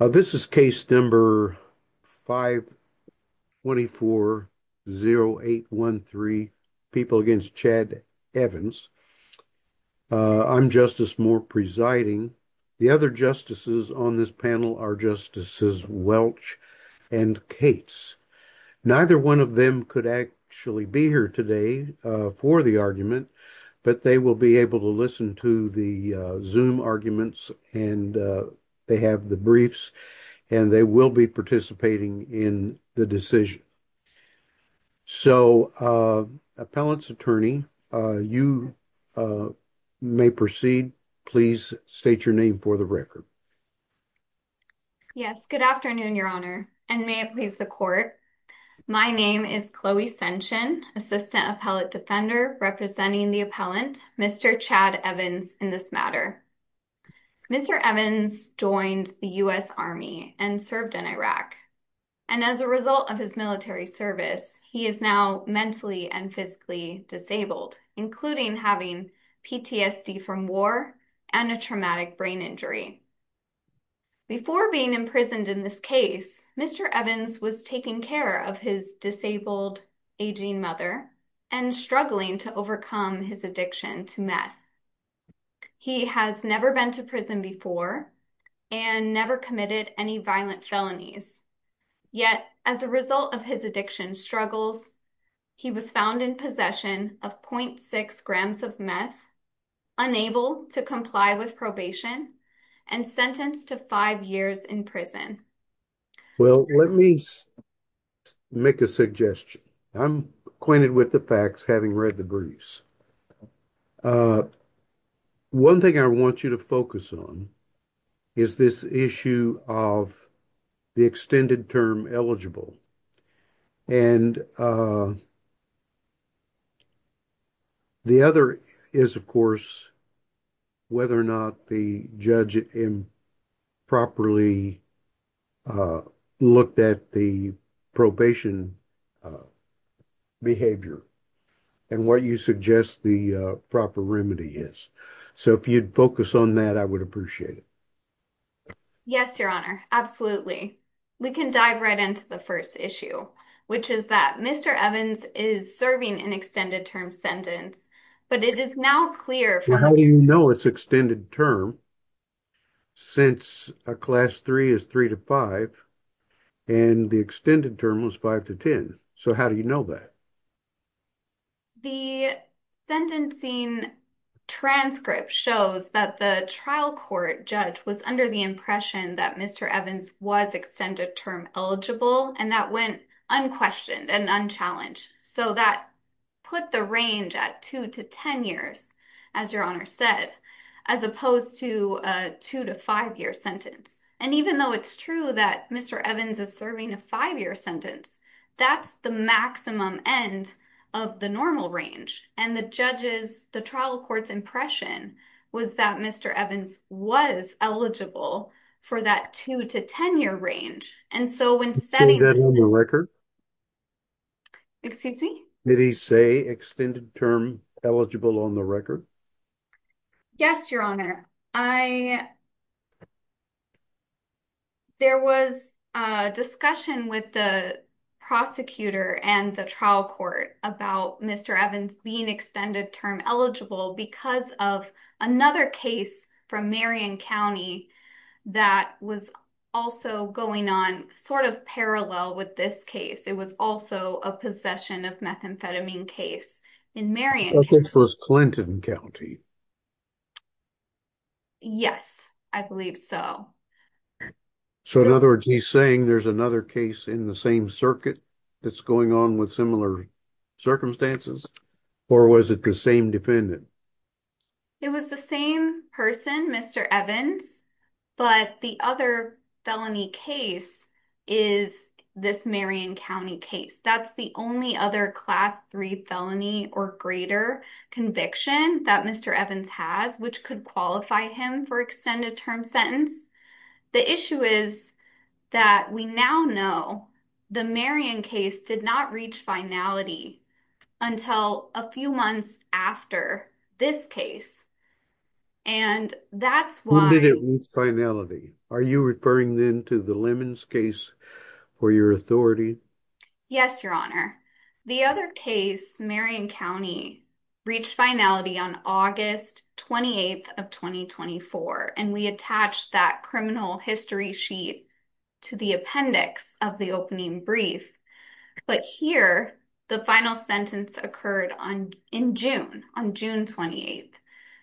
This is case number 524-0813, people against Chad Evans. I'm Justice Moore presiding. The other justices on this panel are Justices Welch and Cates. Neither one of them could actually be here today for the argument, but they will be able to listen to the Zoom arguments and they have the and they will be participating in the decision. So, appellant's attorney, you may proceed. Please state your name for the record. Chloe Sension Yes, good afternoon, Your Honor, and may it please the court. My name is Chloe Sension, Assistant Appellate Defender representing the appellant, Mr. Chad Evans in this matter. Mr. Evans joined the U.S. Army and served in Iraq, and as a result of his military service, he is now mentally and physically disabled, including having PTSD from war and a traumatic brain injury. Before being imprisoned in this case, Mr. Evans was taking care of his disabled aging mother and struggling to overcome his addiction to meth. He has never been to prison before and never committed any violent felonies, yet as a result of his addiction struggles, he was found in possession of 0.6 grams of meth, unable to comply with probation, and sentenced to five years in prison. Well, let me make a suggestion. I'm acquainted with the facts having read the briefs. One thing I want you to focus on is this issue of the extended term eligible, and uh, the other is, of course, whether or not the judge improperly looked at the probation behavior and what you suggest the proper remedy is. So, if you'd focus on that, I would appreciate it. Yes, your honor. Absolutely. We can dive right into the first issue, which is that Mr. Evans is serving an extended term sentence, but it is now clear. How do you know it's extended term, since a class three is three to five, and the extended term was five to ten? So, how do you know that? Well, the sentencing transcript shows that the trial court judge was under the impression that Mr. Evans was extended term eligible, and that went unquestioned and unchallenged. So, that put the range at two to ten years, as your honor said, as opposed to a two to five year sentence. And even though it's true that Mr. Evans is serving a five year sentence, that's the maximum end of the normal range. And the judge's, the trial court's impression was that Mr. Evans was eligible for that two to ten year range. And so, when setting that record, excuse me, did he say extended term eligible on the record? Yes, your honor. I, there was a discussion with the prosecutor and the trial court about Mr. Evans being extended term eligible because of another case from Marion County that was also going on sort of parallel with this case. It was also a possession of methamphetamine case in Marion. I think it was Clinton County. Yes, I believe so. So, in other words, he's saying there's another case in the same circuit that's going on with similar circumstances, or was it the same defendant? It was the same person, Mr. Evans, but the other felony case is this Marion County case. That's the only other class three felony or greater conviction that Mr. Evans has, which could qualify him for extended term sentence. The issue is that we now know the Marion case did not reach finality until a few months after this case. And that's why... When did it reach finality? Are you referring then to the Lemons case for your authority? Yes, your honor. The other case, Marion County, reached finality on August 28th of 2024. And we attached that criminal history sheet to the appendix of the opening brief. But here, the final sentence occurred in June, on June 28th.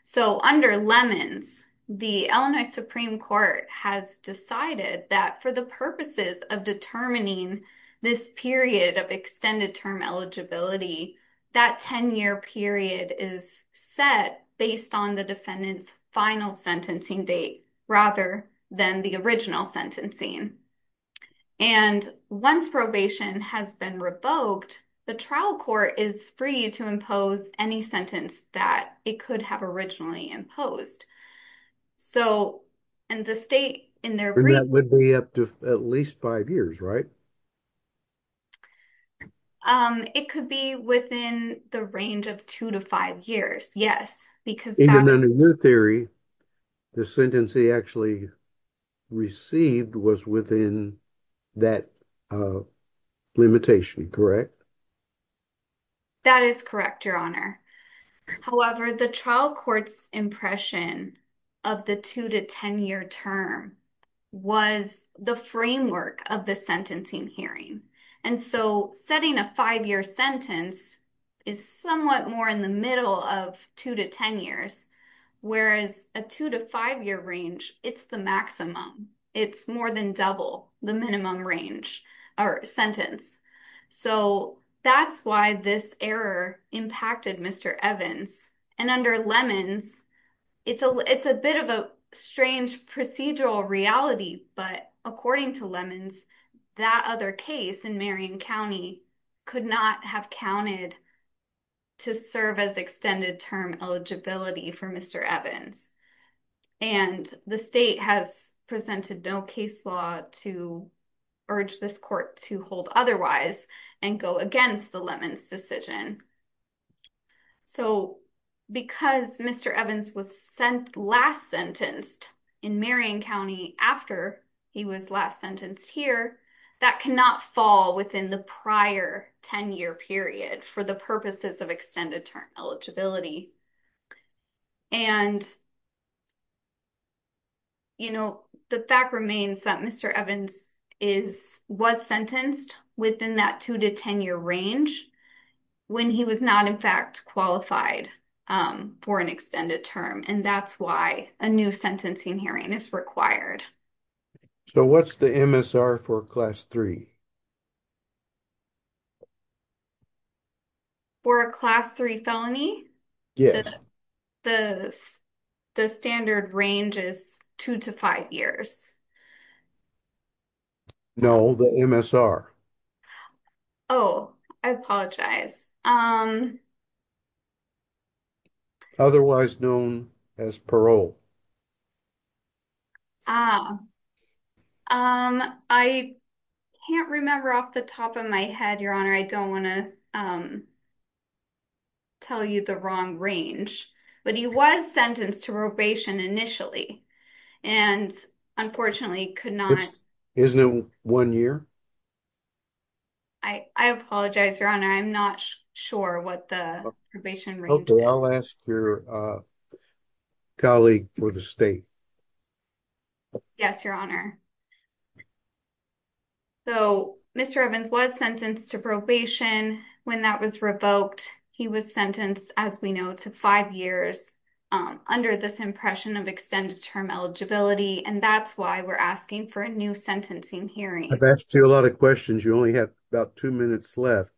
So, under Lemons, the Illinois Supreme Court has decided that for the purposes of determining this period of extended term eligibility, that 10-year period is set based on the defendant's final sentencing date, rather than the original sentencing. And once probation has been revoked, the trial court is to impose any sentence that it could have originally imposed. So, in the state... And that would be up to at least five years, right? It could be within the range of two to five years, yes. Even under your theory, the sentence he actually received was within that limitation, correct? That is correct, your honor. However, the trial court's impression of the two to 10-year term was the framework of the sentencing hearing. And so, setting a five-year sentence is somewhat more in the middle of two to 10 years, whereas a two to five-year range, it's the maximum. It's more than double the minimum range or sentence. So, that's why this error impacted Mr. Evans. And under Lemons, it's a bit of a strange procedural reality, but according to Lemons, that other case in Marion County could not have counted to serve as extended term eligibility for Mr. Evans. And the state has presented no case law to urge this court to hold otherwise and go against the Lemons decision. So, because Mr. Evans was last sentenced in Marion County after he was last sentenced here, that cannot fall within the prior 10-year period for the extended term eligibility. And the fact remains that Mr. Evans was sentenced within that two to 10-year range when he was not, in fact, qualified for an extended term. And that's why a new hearing is required. So, what's the MSR for class three? For a class three felony? Yes. The standard range is two to five years. No, the MSR. Oh, I apologize. Otherwise known as parole. Ah, I can't remember off the top of my head, Your Honor. I don't want to tell you the wrong range, but he was sentenced to probation initially and unfortunately could not. Isn't it one year? I apologize, Your Honor. I'm not sure what the probation range is. Okay, I'll ask your colleague for the state. Yes, Your Honor. So, Mr. Evans was sentenced to probation when that was revoked. He was sentenced, as we know, to five years under this impression of extended term eligibility. And that's why we're asking for a new sentencing hearing. I've asked you a lot of questions. You only have about two minutes left,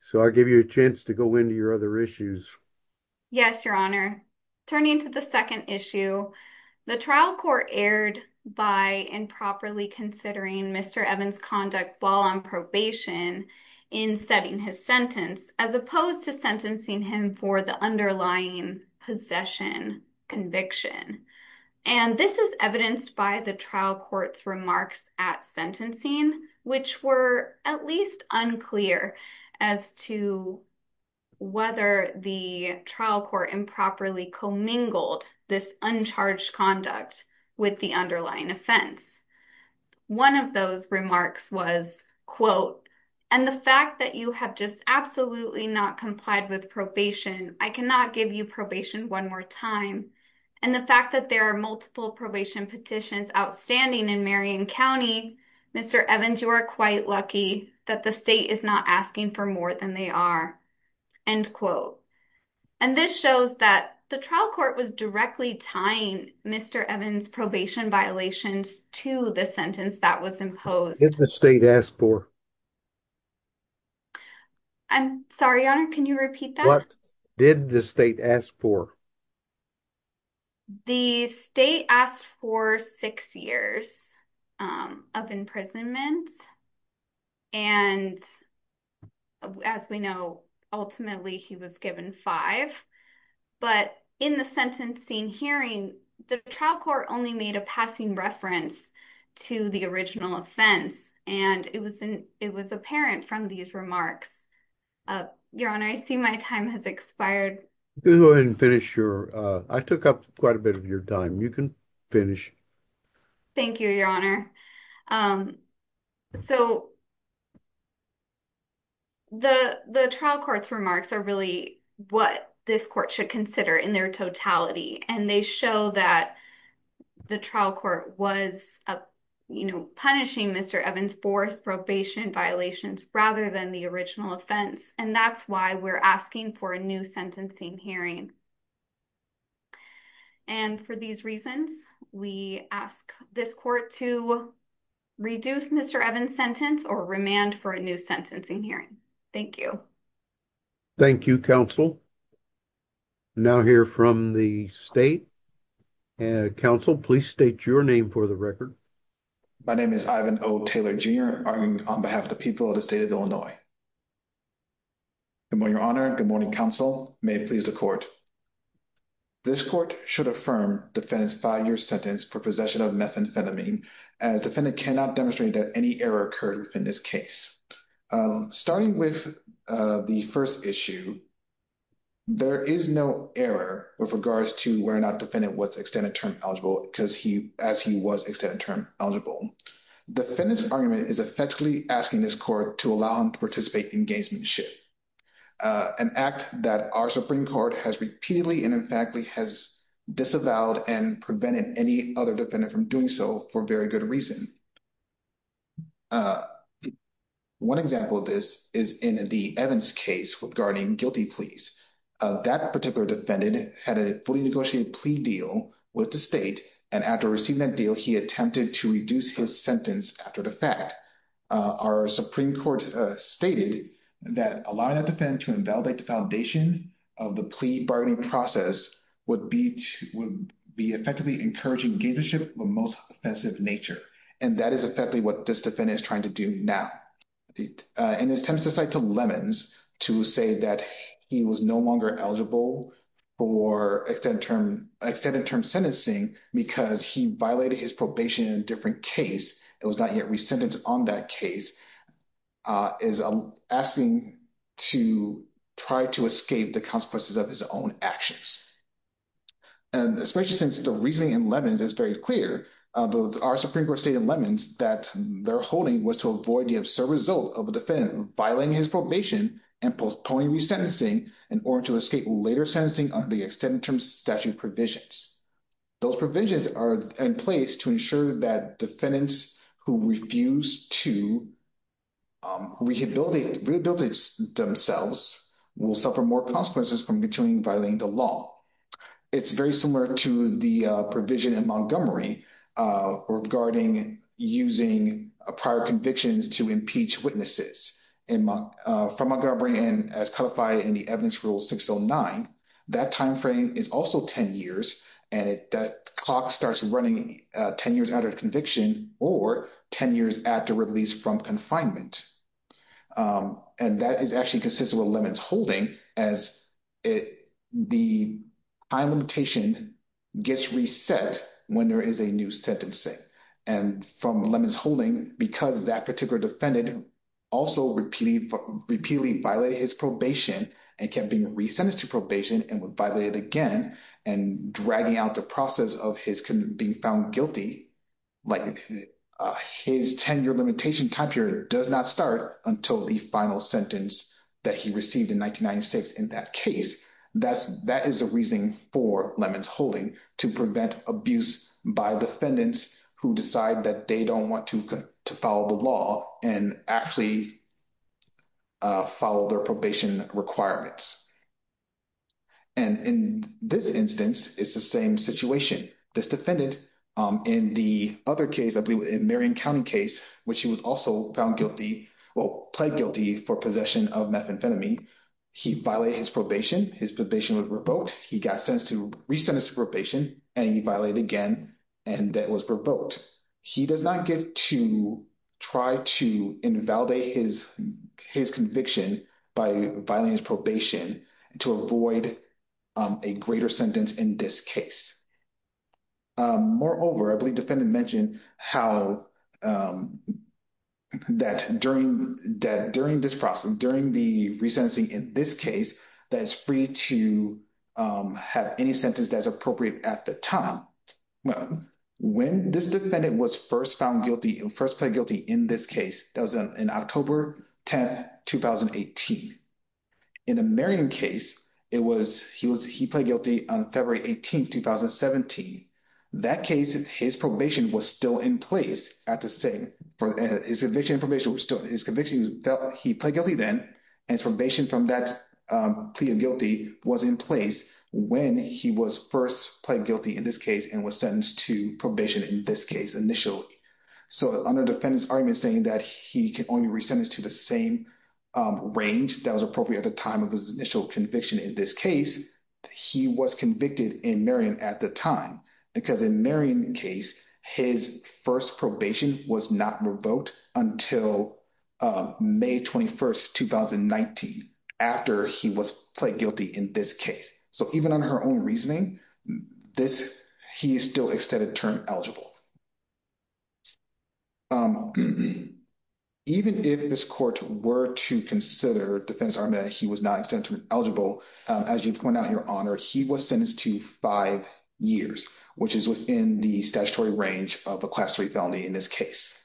so I'll give you a chance to go into your other issues. Yes, Your Honor. Turning to the second issue, the trial court erred by improperly considering Mr. Evans' conduct while on probation in setting his sentence as opposed to sentencing him for the possession conviction. And this is evidenced by the trial court's remarks at sentencing, which were at least unclear as to whether the trial court improperly commingled this uncharged conduct with the underlying offense. One of those remarks was, quote, and the fact that you have just absolutely not complied with probation, I cannot give you probation one more time. And the fact that there are multiple probation petitions outstanding in Marion County, Mr. Evans, you are quite lucky that the state is not asking for more than they are, end quote. And this shows that the trial court was directly tying Mr. Evans' probation violations to the sentence that was imposed. What did the state ask for? I'm sorry, Your Honor, can you repeat that? What did the state ask for? The state asked for six years of imprisonment, and as we know, ultimately he was given five. But in the sentencing hearing, the trial court only made a passing reference to the original offense, and it was apparent from these remarks. Your Honor, I see my time has expired. Go ahead and finish your, I took up quite a bit of your time. You can finish. Thank you, Your Honor. So, the trial court's remarks are really what this court should consider in their totality, and they show that the trial court was punishing Mr. Evans' forced probation violations rather than the original offense, and that's why we're asking for a new sentencing hearing. And for these reasons, we ask this court to reduce Mr. Evans' sentence or remand for a new sentencing hearing. Thank you. Thank you, counsel. Now hear from the state. Counsel, please state your name for the record. My name is Ivan O. Taylor, Jr., arguing on behalf of the people of the state of Illinois. Good morning, Your Honor. Good morning, counsel. May it please the court. This court should affirm defendant's five-year sentence for possession of methamphetamine, as defendant cannot demonstrate that any error occurred within this case. Starting with the first issue, there is no error with regards to whether or not defendant was extended term eligible, as he was extended term eligible. Defendant's argument is effectively asking this court to allow him to participate in gamesmanship, an act that our Supreme Court has repeatedly and emphatically has disavowed and prevented any other defendant from doing so for very good reason. One example of this is in the Evans case regarding guilty pleas. That particular defendant had a fully negotiated plea deal with the state, and after receiving that deal, he attempted to reduce his sentence after the fact. Our Supreme Court stated that allowing that defendant to invalidate the foundation of the plea bargaining process would be effectively encouraging gamesmanship of the most offensive nature, and that is effectively what this defendant is trying to do now. In his attempt to cite to Lemons to say that he was no longer eligible for extended term sentencing because he violated his probation in a different case and was not yet resentenced on that case, is asking to try to escape the consequences of his own actions, and especially since the reasoning in Lemons is very clear, our Supreme Court stated in Lemons that their holding was to avoid the absurd result of a defendant violating his probation and postponing resentencing in order to escape later sentencing under the extended term statute provisions. Those provisions are in place to ensure that defendants who refuse to rehabilitate themselves will suffer more consequences from continuing violating the law. It's very similar to the provision in Montgomery regarding using prior convictions to impeach witnesses from Montgomery as codified in the Evidence Rule 609. That time frame is also 10 years, and that clock starts running 10 years after conviction or 10 years after release from confinement, and that is actually consistent with Lemons' holding as the high limitation gets reset when there is a new sentencing, and from Lemons' holding, because that particular defendant also repeatedly violated his probation and kept being resentenced to probation and violated again and dragging out the process of his being found guilty, like his 10-year limitation time period does not start until the final sentence that he received in 1996 in that case. That is the reasoning for Lemons' holding, to prevent abuse by defendants who decide that they don't want to follow the law and actually follow their probation requirements. And in this instance, it's the same situation. This defendant, in the other case, I believe in Marion County case, which he was also found guilty, well, pled guilty for possession of methamphetamine, he violated his probation. His probation was revoked. He got sentenced to re-sentenced to not get to try to invalidate his conviction by violating his probation to avoid a greater sentence in this case. Moreover, I believe the defendant mentioned how that during this process, during the resentencing in this case, that it's free to have any sentence that's appropriate at the time. Well, when this defendant was first found guilty and first pled guilty in this case, that was in October 10th, 2018. In the Marion case, he pled guilty on February 18th, 2017. That case, his probation was still in place at the same, his conviction and probation were still, his conviction that he pled guilty then and his probation from that plea of guilty was in place when he was first pled guilty in this case and was sentenced to probation in this case initially. Under defendant's argument saying that he can only re-sentence to the same range that was appropriate at the time of his initial conviction in this case, he was convicted in Marion at the time. Because in Marion case, his first probation was not revoked until May 21st, 2019 after he was pled guilty in this case. So even on her own reasoning, this, he is still extended term eligible. Even if this court were to consider defendant's argument that he was not extended term eligible, as you've pointed out, Your Honor, he was sentenced to five years, which is within the statutory range of a class three felony in this case.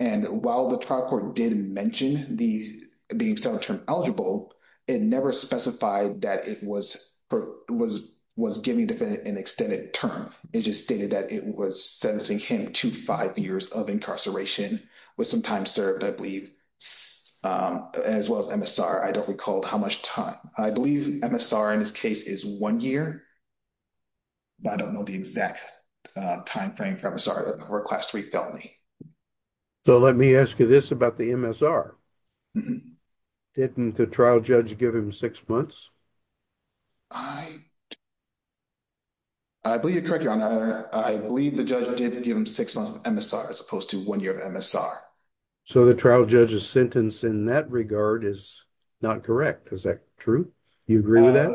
And while the trial court did mention the extended term eligible, it never specified that it was giving defendant an extended term. It just stated that it was sentencing him to five years of incarceration with some time served, I believe, as well as MSR. I don't recall how much time. I believe MSR in this case is one year, but I don't know the exact timeframe for MSR or class three felony. So let me ask you this about the MSR. Mm-hmm. Didn't the trial judge give him six months? I believe you're correct, Your Honor. I believe the judge did give him six months of MSR as opposed to one year of MSR. So the trial judge's sentence in that regard is not correct. Is that true? Do you agree with that?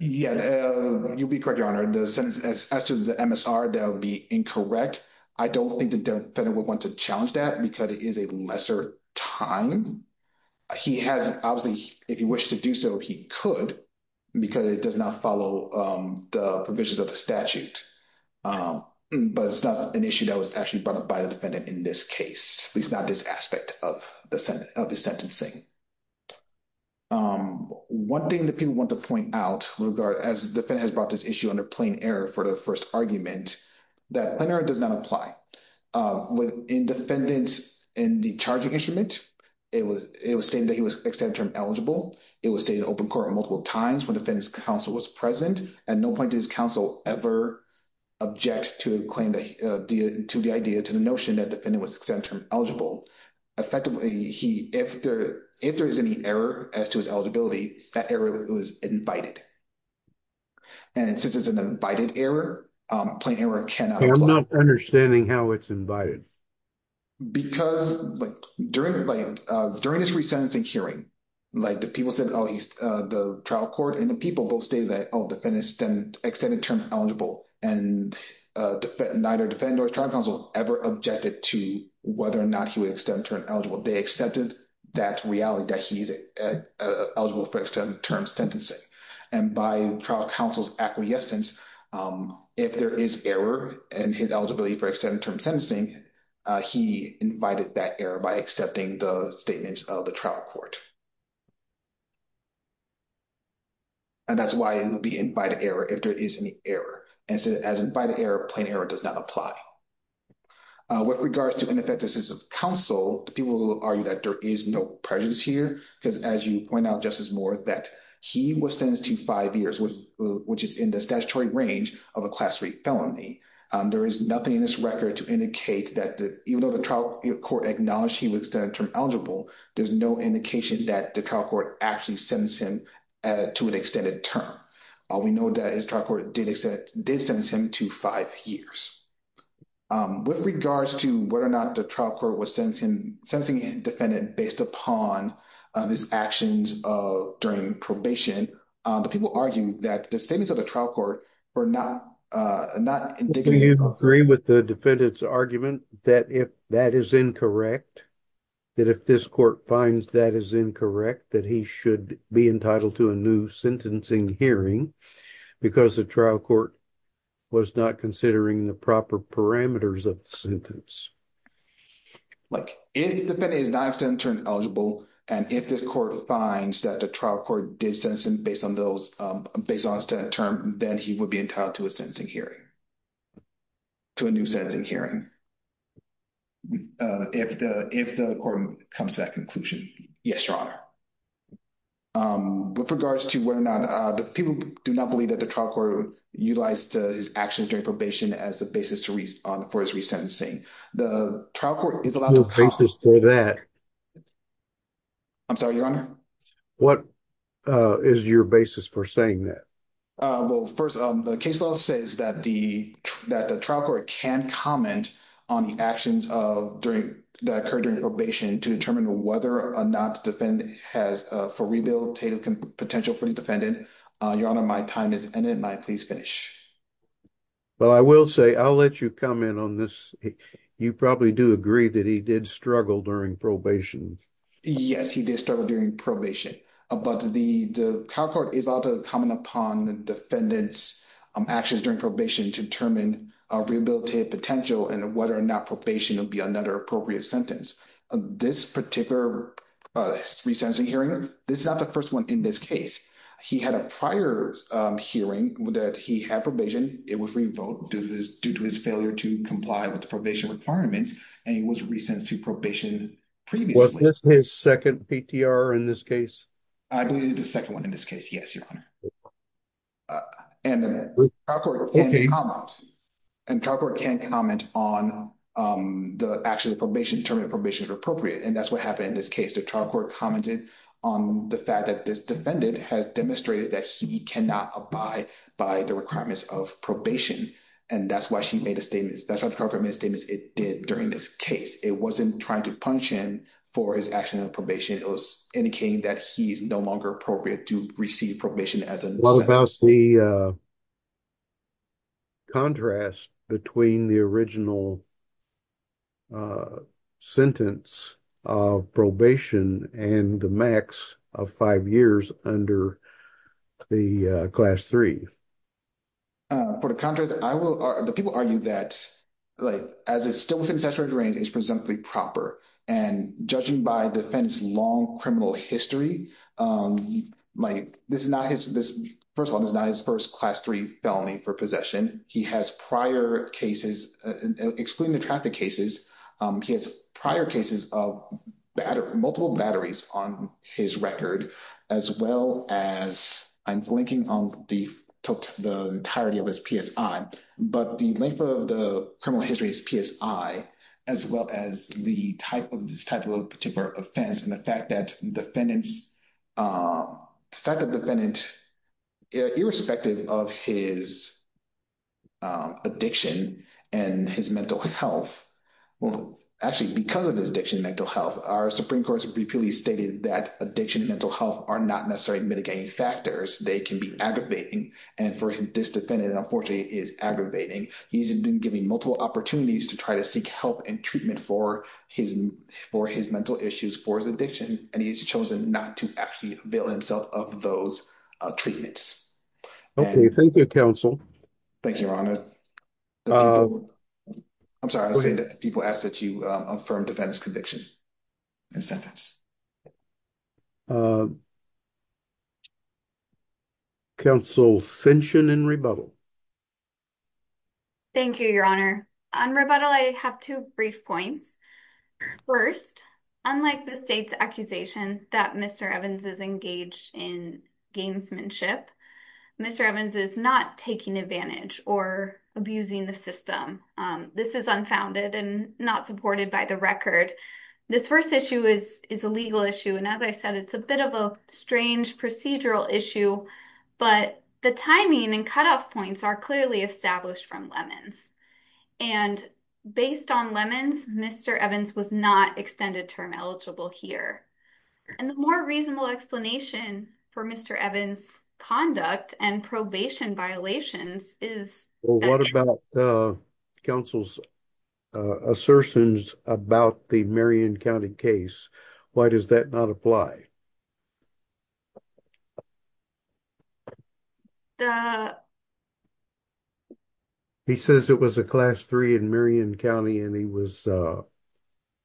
Yeah, you'll be correct, Your Honor. The sentence after the MSR, that would be incorrect. I don't think the defendant would want to challenge that because it is a lesser time. Obviously, if he wished to do so, he could because it does not follow the provisions of the statute. But it's not an issue that was actually brought up by the defendant in this case, at least not this aspect of his sentencing. One thing that people want to point out as the defendant has brought this issue under plain error for the first argument, that plain error does not apply. In defendant in the charging instrument, it was stated that he was extended term eligible. It was stated in open court multiple times when defendant's counsel was present. At no point did his counsel ever object to the idea, to the notion that the defendant was extended term eligible. Effectively, if there is any error as to his I'm not understanding how it's invited. Because during this resentencing hearing, the people said the trial court and the people both stated that the defendant is extended term eligible and neither defendant or his trial counsel ever objected to whether or not he was extended term eligible. They accepted that reality that he's eligible for extended term sentencing. And by trial counsel's acquiescence, if there is error and his eligibility for extended term sentencing, he invited that error by accepting the statements of the trial court. And that's why it would be invited error if there is any error. And so as invited error, plain error does not apply. With regards to ineffectiveness of counsel, people argue that there is no prejudice here. Because as you point out, Justice Moore, that he was sentenced to five years, which is in the statutory range of a class three felony. There is nothing in this record to indicate that even though the trial court acknowledged he was extended term eligible, there's no indication that the trial court actually sentenced him to an extended term. We know that his trial court did sentence him to five years. With regards to whether or not the trial court was sentencing a defendant based upon his actions during probation, the people argue that the statements of the trial court were not indignant. Do you agree with the defendant's argument that if that is incorrect, that if this court finds that is incorrect, that he should be entitled to a new sentencing hearing because the trial court was not considering the proper parameters of the sentence? If the defendant is not extended term eligible, and if this court finds that the trial court did sentence him based on extended term, then he would be entitled to a sentencing hearing, to a new sentencing hearing, if the court comes to that conclusion. Yes, Your Honor. With regards to whether or not the people do not believe that the trial court utilized his actions during probation as a basis for his resentencing, the trial court is allowed to comment- No basis for that. I'm sorry, Your Honor? What is your basis for saying that? Well, first, the case law says that the trial court can comment on the actions that occurred during probation to determine whether or not the defendant has a rehabilitative potential for the defendant. Your Honor, my time has ended. May I please finish? I will say, I'll let you comment on this. You probably do agree that he did struggle during probation. Yes, he did struggle during probation, but the trial court is allowed to comment upon the defendant's actions during probation to determine a rehabilitative potential and whether or not probation would be another appropriate sentence. This particular resentencing hearing, this is not the first one in this case. He had a prior hearing that he had probation. It was revoked due to his failure to comply with the probation requirements, and he was resentencing probation previously. Was this his second PTR in this case? I believe it's the second one in this case, yes, Your Honor. The trial court can comment on the actions of probation to determine if probation is appropriate, and that's what happened in this case. The trial court commented on the fact that this defendant has demonstrated that he cannot abide by the requirements of probation, and that's why she made a statement. That's why the trial court made a statement it did during this case. It wasn't trying to punish him for his action of probation. It was indicating that he's no longer appropriate to receive probation as a sentence. What about the contrast between the original sentence of probation and the max of five years under the class three? For the contrast, the people argue that as it's still within statutory range, it's not his first class three felony for possession. He has prior cases, excluding the traffic cases, he has prior cases of multiple batteries on his record, as well as I'm blanking on the entirety of his PSI, but the length of the criminal history is PSI, as well as the type of particular offense and the fact that the defendant, irrespective of his addiction and his mental health, well, actually, because of his addiction and mental health, our Supreme Court has repeatedly stated that addiction and mental health are not necessarily mitigating factors. They can be aggravating, and for this defendant, unfortunately, it is aggravating. He's been given multiple opportunities to try to seek help and treatment for his mental issues, for his addiction, and he's chosen not to actually avail himself of those treatments. Okay, thank you, counsel. Thank you, Your Honor. I'm sorry to say that people ask that you affirm defendant's conviction and sentence. Counsel Finchon in rebuttal. Thank you, Your Honor. On rebuttal, I have two brief points. First, unlike the state's accusation that Mr. Evans is engaged in gamesmanship, Mr. Evans is not taking advantage or abusing the system. This is unfounded and not supported by the record. This first issue is a legal issue, and as I said, it's a bit of a strange procedural issue, but the timing and cutoff points are clearly established from Lemons, and based on Lemons, Mr. Evans was not extended term eligible here, and the more reasonable explanation for Mr. Evans' conduct and probation violations is- What about counsel's assertions about the Marion County case? Why does that not apply? He says it was a class three in Marion County, and he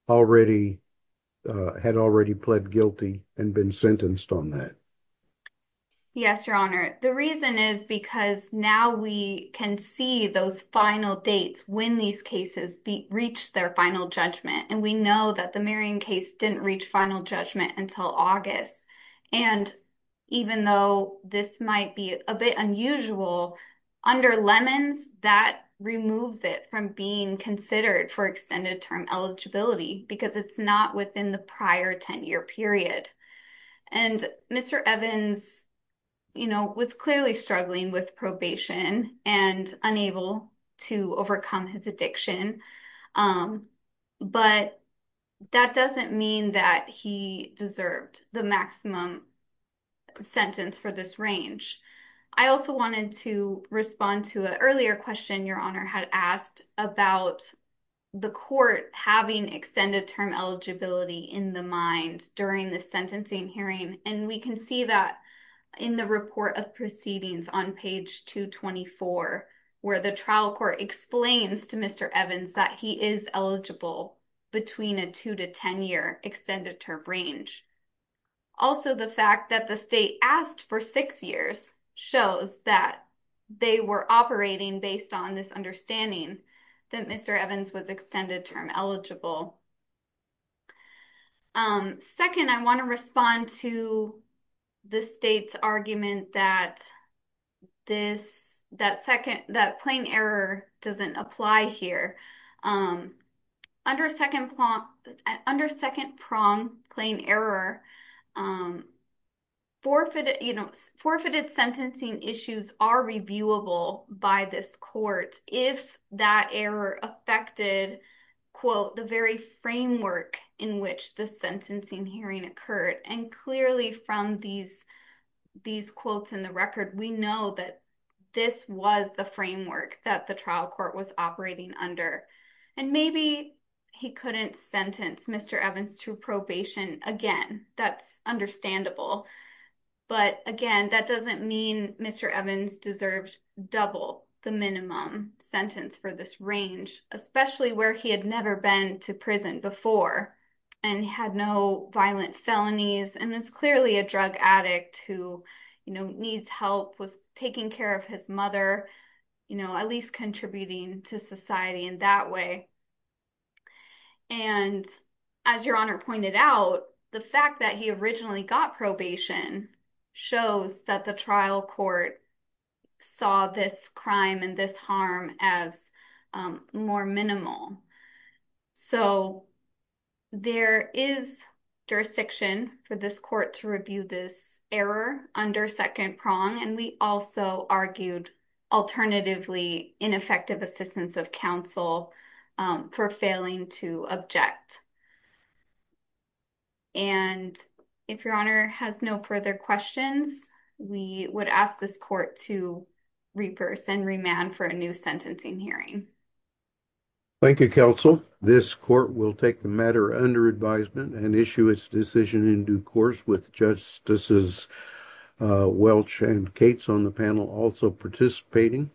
had already pled guilty and been sentenced on that. Yes, Your Honor. The reason is because now we can see those final dates when these cases reached their final judgment, and we know that the Marion case didn't reach final judgment until August, and even though this might be a bit unusual, under Lemons, that removes it from being considered for extended term eligibility because it's not within the prior 10-year period, and Mr. Evans was clearly struggling with probation and unable to overcome his addiction, but that doesn't mean that he deserved the maximum sentence for this range. I also wanted to respond to an earlier question Your Honor had asked about the court having extended term eligibility in the mind during the sentencing hearing, and we can see that in the report of proceedings on page 224, where the trial court explains to Mr. Evans that he is eligible between a two to 10-year extended term range. Also, the fact that the state asked for six years shows that they were operating based on this understanding that Mr. Evans was extended term eligible. Second, I want to respond to the state's argument that plain error doesn't apply here. Under second prong plain error, forfeited sentencing issues are reviewable by this court if that error affected, quote, the very framework in which the sentencing hearing occurred, and clearly from these quotes in the record, we know that this was the framework that the trial court was operating under. Maybe he couldn't sentence Mr. Evans to probation. Again, that's understandable, but again, that doesn't mean Mr. Evans deserved double the minimum sentence for this range, especially where he had never been to prison before and had no violent felonies and was clearly a drug addict who needs help, was taking care of his mother, at least contributing to society in that way. And as Your Honor pointed out, the fact that originally got probation shows that the trial court saw this crime and this harm as more minimal. So, there is jurisdiction for this court to review this error under second prong, and we also argued alternatively ineffective assistance of counsel for failing to object. And if Your Honor has no further questions, we would ask this court to repurse and remand for a new sentencing hearing. Thank you, counsel. This court will take the matter under advisement and issue its decision in due course with Justices Welch and Cates on the panel also participating.